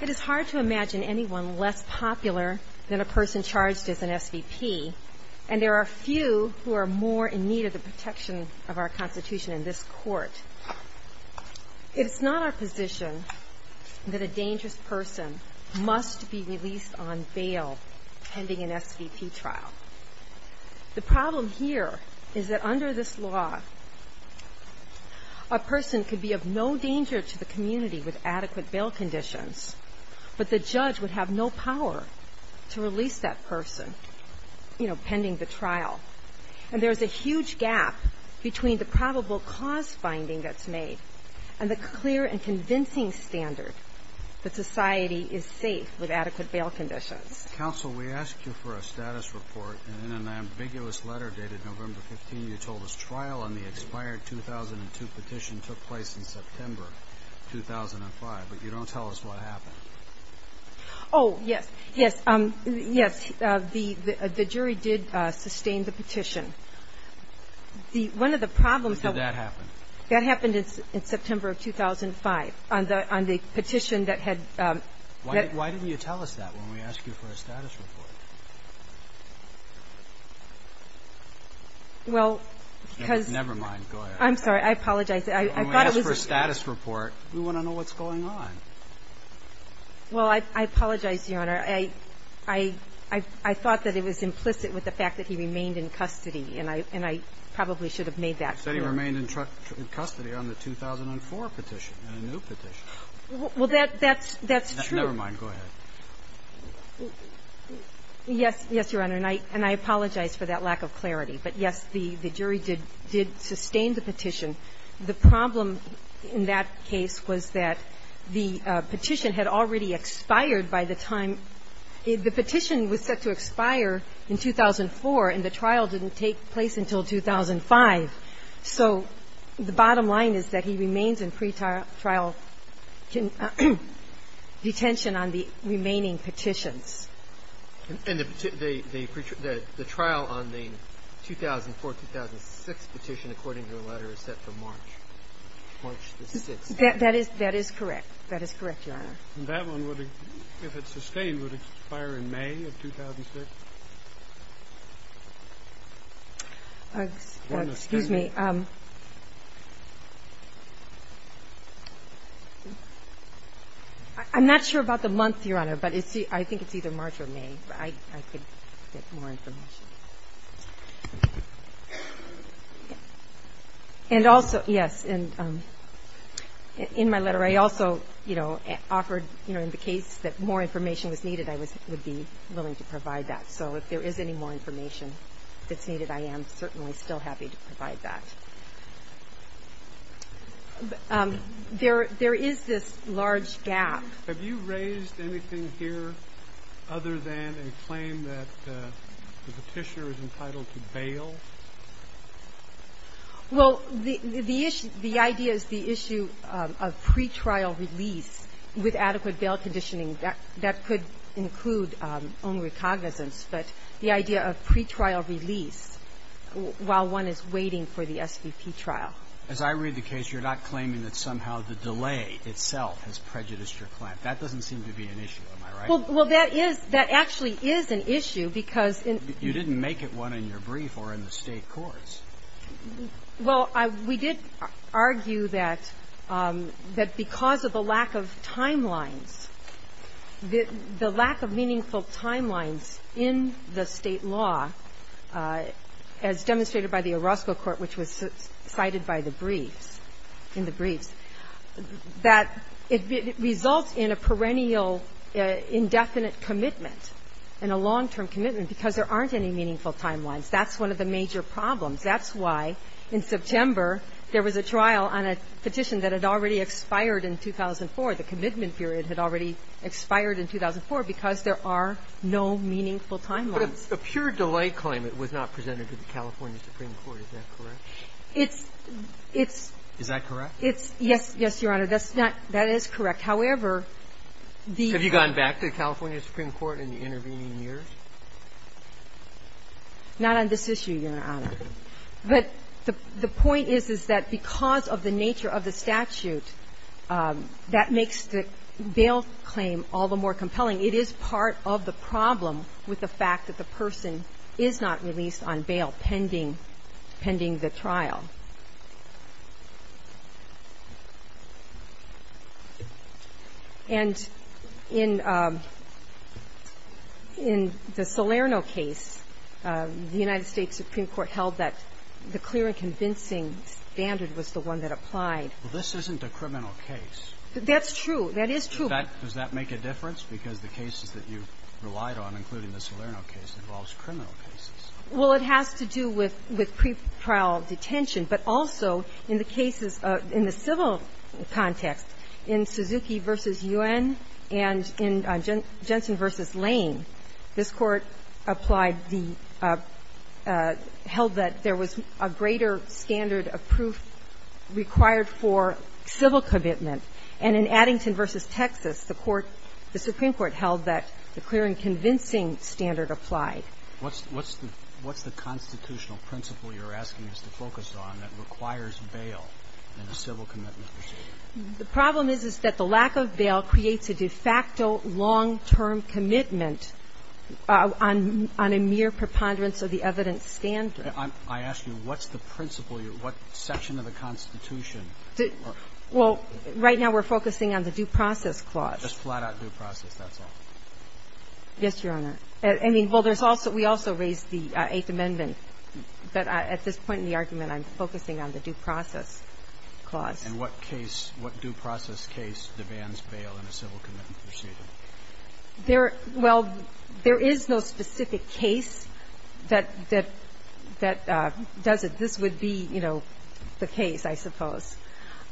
It is hard to imagine anyone less popular than a person charged as an SVP, and there are few who are more in need of the protection of our Constitution in this Court. It is not our position that a dangerous person must be released on bail pending an SVP trial. The problem here is that under this law, a person could be of no danger to the community with adequate bail conditions, but the judge would have no power to release that person pending the trial. And there's a huge gap between the probable cause finding that's made and the clear and convincing standard that society is safe with adequate bail conditions. Counsel, we asked you for a status report, and in an ambiguous letter dated November 15, you told us trial on the expired 2002 petition took place in September 2005, but you don't tell us what happened. Oh, yes. Yes. Yes. The jury did sustain the petition. The one of the problems How did that happen? That happened in September of 2005, on the petition that had Why didn't you tell us that when we asked you for a status report? Well, because Never mind. Go ahead. I'm sorry. I apologize. I thought it was When we ask for a status report, we want to know what's going on. Well, I apologize, Your Honor. I thought that it was implicit with the fact that he remained in custody, and I probably should have made that clear. You said he remained in custody on the 2004 petition, a new petition. Well, that's true. Never mind. Go ahead. Yes. Yes, Your Honor. And I apologize for that lack of clarity. But, yes, the jury did sustain the petition. The problem in that case was that the petition had already expired by the time The petition was set to expire in 2004, and the trial didn't take place until 2005. So the bottom line is that he remains in pretrial detention on the remaining petitions. And the trial on the 2004-2006 petition, according to the letter, is set for March. March the 6th. That is correct. That is correct, Your Honor. And that one, if it's sustained, would expire in May of 2006? Excuse me. I'm not sure about the month, Your Honor, but I think it's either March or May. I could get more information. And also, yes, in my letter, I also, you know, offered, you know, in the case that more information was needed, I would be willing to provide that. So if there is any more information that's needed, I am certainly still happy to provide that. There is this large gap. Have you raised anything here other than a claim that the petitioner is entitled to bail? Well, the idea is the issue of pretrial release with adequate bail conditioning. That could include only recognizance, but the idea of pretrial release while one is waiting for the SVP trial. As I read the case, you're not claiming that somehow the delay itself has prejudiced your client. That doesn't seem to be an issue. Am I right? Well, that is – that actually is an issue because in – You didn't make it one in your brief or in the State courts. Well, we did argue that because of the lack of timelines, the lack of meaningful timelines in the State law, as demonstrated by the Orozco Court, which was cited by the briefs, in the briefs, that it results in a perennial, indefinite commitment and a long-term commitment because there aren't any meaningful timelines. That's one of the major problems. That's why in September there was a trial on a petition that had already expired in 2004. The commitment period had already expired in 2004 because there are no meaningful timelines. But a pure delay claim, it was not presented to the California Supreme Court. Is that correct? It's – it's – Is that correct? It's – yes, Your Honor. That's not – that is correct. However, the – Have you gone back to the California Supreme Court in the intervening years? Not on this issue, Your Honor. But the point is, is that because of the nature of the statute, that makes the bail claim all the more compelling. It is part of the problem with the fact that the person is not released on bail pending – pending the trial. And in the Salerno case, the United States Supreme Court held that the person who was released on bail was the one that applied. Well, this isn't a criminal case. That's true. That is true. In fact, does that make a difference? Because the cases that you relied on, including the Salerno case, involves criminal cases. Well, it has to do with pre-trial detention. But also in the cases – in the civil context, in Suzuki v. U.N. and in Jensen v. Lane, this Court applied the – held that there was a greater standard of proof required for civil commitment. And in Addington v. Texas, the Court – the Supreme Court held that the clear and convincing standard applied. What's the constitutional principle you're asking us to focus on that requires bail in a civil commitment procedure? The problem is, is that the lack of bail creates a de facto long-term commitment on – on a mere preponderance of the evidence standard. I'm – I ask you, what's the principle? What section of the Constitution? Well, right now we're focusing on the due process clause. Just flat-out due process, that's all? Yes, Your Honor. I mean, well, there's also – we also raised the Eighth Amendment. But at this point in the argument, I'm focusing on the due process clause. And what case – what due process case demands bail in a civil commitment procedure? There – well, there is no specific case that – that does it. This would be, you know, the case, I suppose.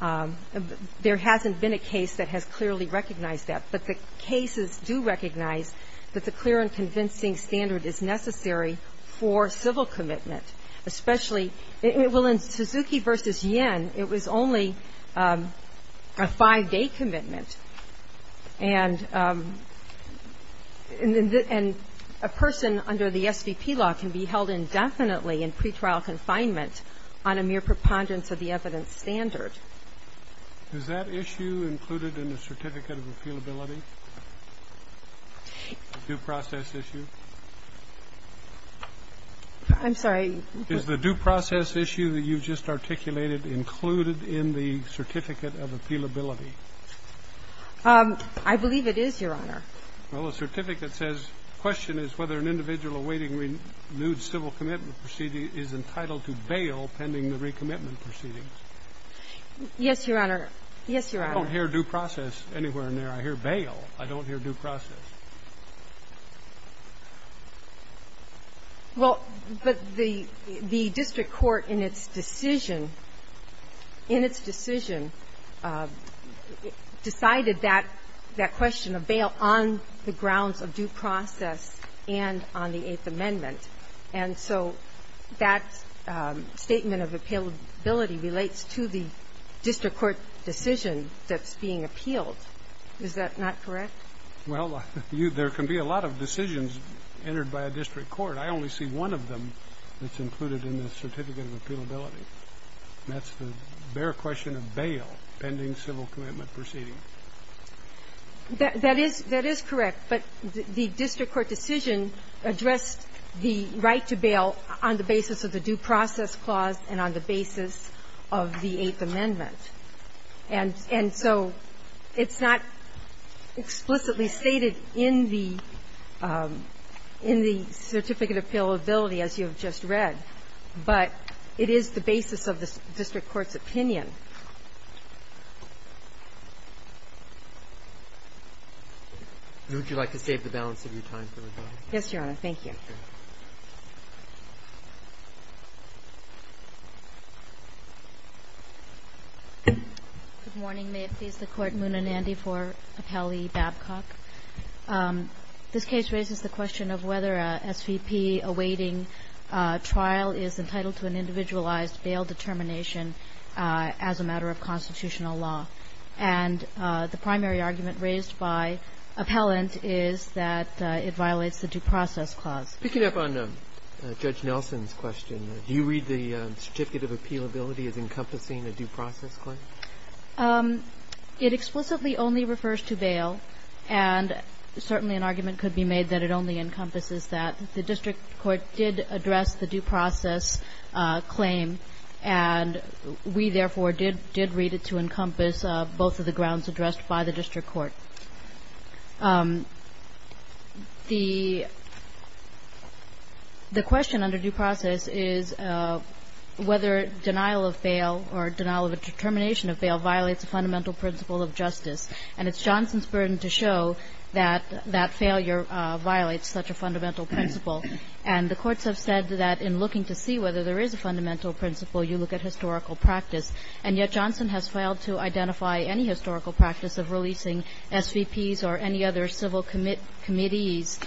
There hasn't been a case that has clearly recognized that. But the cases do recognize that the clear and convincing standard is necessary for civil commitment, especially – well, in Suzuki v. U.N., it was only a five-day commitment. And – and a person under the SVP law can be held indefinitely in pretrial confinement on a mere preponderance of the evidence standard. Is that issue included in the Certificate of Appealability, the due process issue? I'm sorry. Is the due process issue that you just articulated included in the Certificate of Appealability? I believe it is, Your Honor. Well, the certificate says, Question is whether an individual awaiting renewed civil commitment procedure is entitled to bail pending the recommitment proceedings. Yes, Your Honor. Yes, Your Honor. I don't hear due process anywhere in there. I hear bail. I don't hear due process. Well, but the district court in its decision – in its decision decided that question of bail on the grounds of due process and on the Eighth Amendment. And so that statement of appealability relates to the district court decision that's being appealed. Is that not correct? Well, there can be a lot of decisions entered by a district court. I only see one of them that's included in the Certificate of Appealability. And that's the bare question of bail pending civil commitment proceedings. That is correct. But the district court decision addressed the right to bail on the basis of the due process clause and on the basis of the Eighth Amendment. And so it's not explicitly stated in the Certificate of Appealability, as you have just read. But it is the basis of the district court's opinion. And would you like to save the balance of your time for rebuttal? Yes, Your Honor. Thank you. Good morning. May it please the Court. Muna Nandy for Appellee Babcock. This case raises the question of whether an SVP awaiting trial is entitled to an individualized bail determination as a matter of constitutional law. And the primary argument raised by appellant is that it violates the due process clause. Picking up on Judge Nelson's question, do you read the Certificate of Appealability as encompassing a due process claim? It explicitly only refers to bail. And certainly an argument could be made that it only encompasses that. The district court did address the due process claim. And we, therefore, did read it to encompass both of the grounds addressed by the district court. The question under due process is whether denial of bail or denial of a determination of bail violates a fundamental principle of justice. And it's Johnson's burden to show that that failure violates such a fundamental principle. And the courts have said that in looking to see whether there is a fundamental principle, you look at historical practice. And yet Johnson has failed to identify any historical practice of releasing SVPs or any other civil committees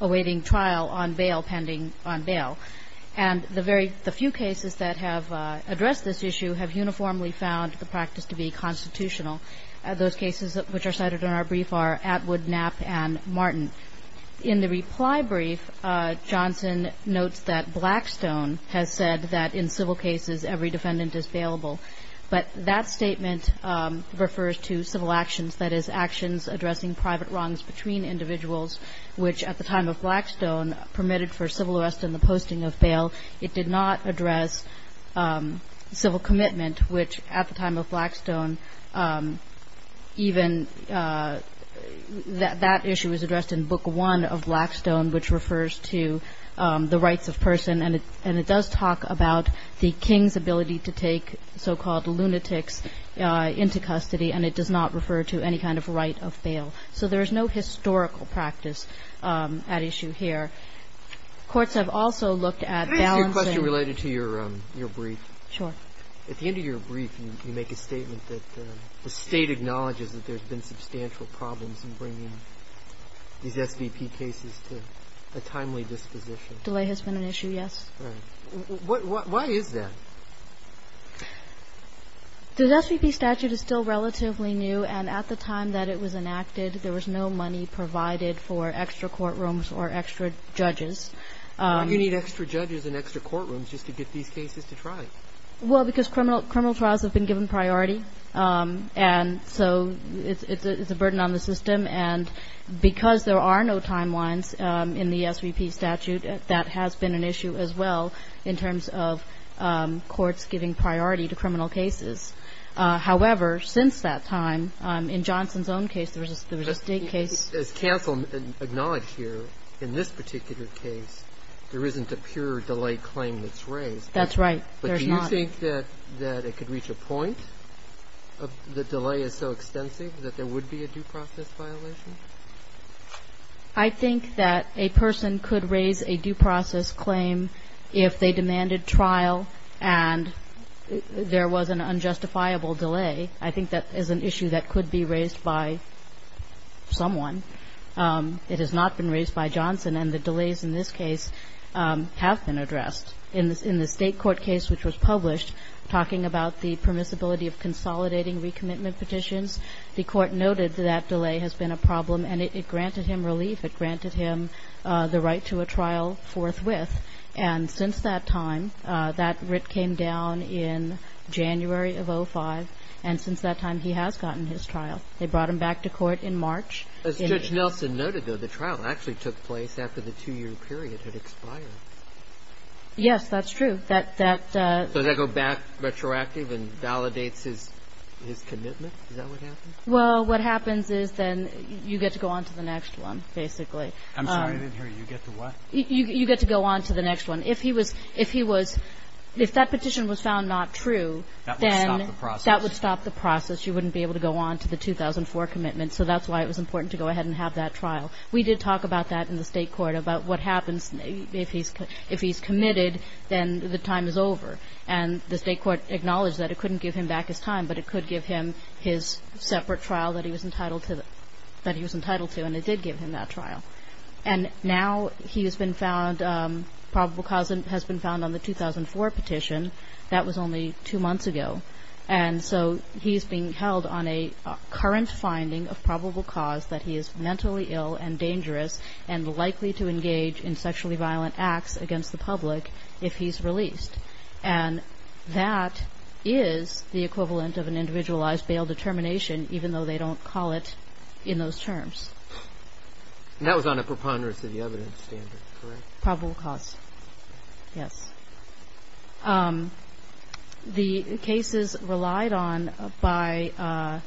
awaiting trial on bail pending on bail. And the very few cases that have addressed this issue have uniformly found the practice to be constitutional. Those cases which are cited in our brief are Atwood, Knapp, and Martin. In the reply brief, Johnson notes that Blackstone has said that in civil cases, every defendant is bailable. But that statement refers to civil actions, that is, actions addressing private wrongs between individuals, which at the time of Blackstone permitted for civil arrest and the posting of bail. It did not address civil commitment, which at the time of Blackstone, even that issue was addressed in Book I of Blackstone, which refers to the rights of person. And it does talk about the king's ability to take so-called lunatics into custody, and it does not refer to any kind of right of bail. So there is no historical practice at issue here. Courts have also looked at balancing the SVP cases to a timely disposition. At the end of your brief, you make a statement that the State acknowledges that there's been substantial problems in bringing these SVP cases to a timely disposition. Delay has been an issue, yes. All right. Why is that? The SVP statute is still relatively new, and at the time that it was enacted, there was no money provided for extra courtrooms or extra judges. Why do you need extra judges and extra courtrooms just to get these cases to try? Well, because criminal trials have been given priority, and so it's a burden on the system. And because there are no timelines in the SVP statute, that has been an issue as well in terms of courts giving priority to criminal cases. However, since that time, in Johnson's own case, there was a State case. As counsel acknowledged here, in this particular case, there isn't a pure delay claim that's raised. That's right. There's not. But do you think that it could reach a point, if the delay is so extensive, that there would be a due process violation? I think that a person could raise a due process claim if they demanded trial and there was an unjustifiable delay. I think that is an issue that could be raised by someone. It has not been raised by Johnson, and the delays in this case have been addressed. In the State court case which was published, talking about the permissibility of consolidating recommitment petitions, the Court noted that that delay has been a problem and it granted him relief. It granted him the right to a trial forthwith. And since that time, that writ came down in January of 2005, and since that time he has gotten his trial. They brought him back to court in March. As Judge Nelson noted, though, the trial actually took place after the two-year period had expired. Yes, that's true. Does that go back retroactive and validates his commitment? Is that what happens? Well, what happens is then you get to go on to the next one, basically. I'm sorry, I didn't hear you. You get to what? You get to go on to the next one. If that petition was found not true, then that would stop the process. You wouldn't be able to go on to the 2004 commitment. So that's why it was important to go ahead and have that trial. We did talk about that in the State Court, about what happens if he's committed, then the time is over. And the State Court acknowledged that it couldn't give him back his time, but it could give him his separate trial that he was entitled to, and it did give him that trial. And now he has been found, probable cause has been found on the 2004 petition. That was only two months ago. And so he's being held on a current finding of probable cause that he is mentally ill and dangerous and likely to engage in sexually violent acts against the public if he's released. And that is the equivalent of an individualized bail determination, even though they don't call it in those terms. And that was on a preponderance of the evidence standard, correct? Probable cause, yes. The cases relied on by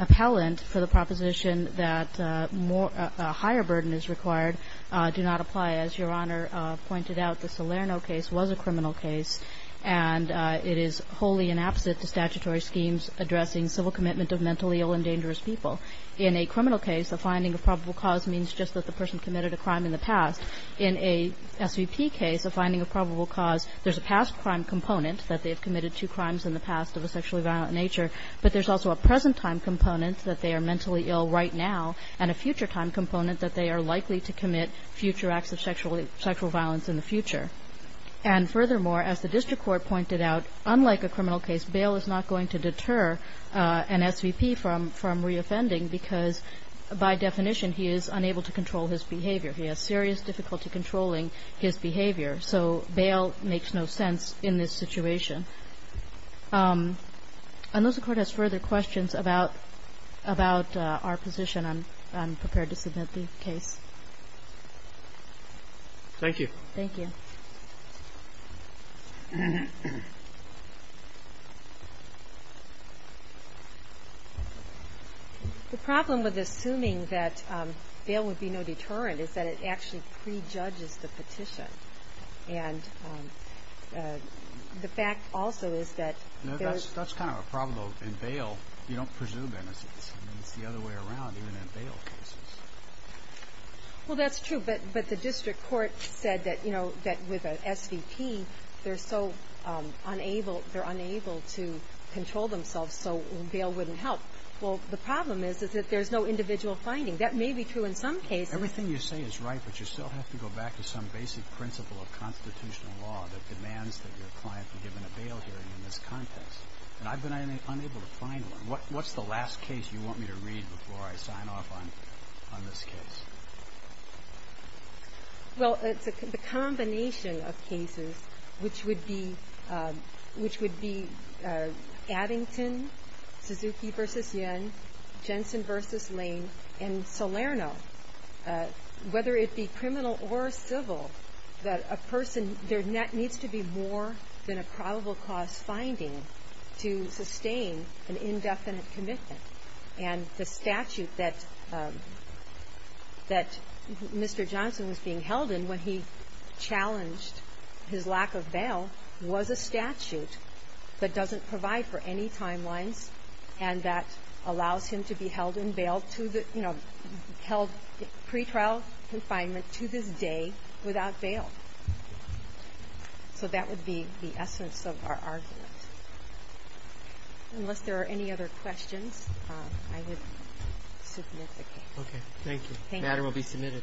appellant for the proposition that a higher burden is required do not apply. As Your Honor pointed out, the Salerno case was a criminal case, and it is wholly inapposite to statutory schemes addressing civil commitment of mentally ill and dangerous people. In a criminal case, a finding of probable cause means just that the person committed a crime in the past. In a SVP case, a finding of probable cause there's a past crime component that they have committed two crimes in the past of a sexually violent nature, but there's also a present time component that they are mentally ill right now and a future time component that they are likely to commit future acts of sexual violence in the future. And furthermore, as the district court pointed out, unlike a criminal case, bail is not going to deter an SVP from reoffending because by definition he is unable to control his behavior. He has serious difficulty controlling his behavior. So bail makes no sense in this situation. Unless the Court has further questions about our position, I'm prepared to submit the case. Thank you. Thank you. The problem with assuming that bail would be no deterrent is that it actually prejudges the petition. And the fact also is that there's... That's kind of a problem, though. In bail, you don't presume anything. It's the other way around, even in bail cases. Well, that's true. But the district court said that, you know, that with an SVP, they're so unable, they're unable to control themselves, so bail wouldn't help. Well, the problem is that there's no individual finding. That may be true in some cases. Everything you say is right, but you still have to go back to some basic principle of constitutional law that demands that your client be given a bail hearing in this context. And I've been unable to find one. What's the last case you want me to read before I sign off on this case? Well, it's the combination of cases which would be Addington, Suzuki v. Yen, Jensen v. Lane, and Salerno. Whether it be criminal or civil, that a person, there needs to be more than a probable cause finding to sustain an indefinite commitment. And the statute that that Mr. Johnson was being held in when he challenged his lack of bail was a statute and that allows him to be held in bail to the, you know, held in pretrial confinement to this day without bail. So that would be the essence of our argument. Unless there are any other questions, I would submit the case. Okay. Thank you. The matter will be submitted.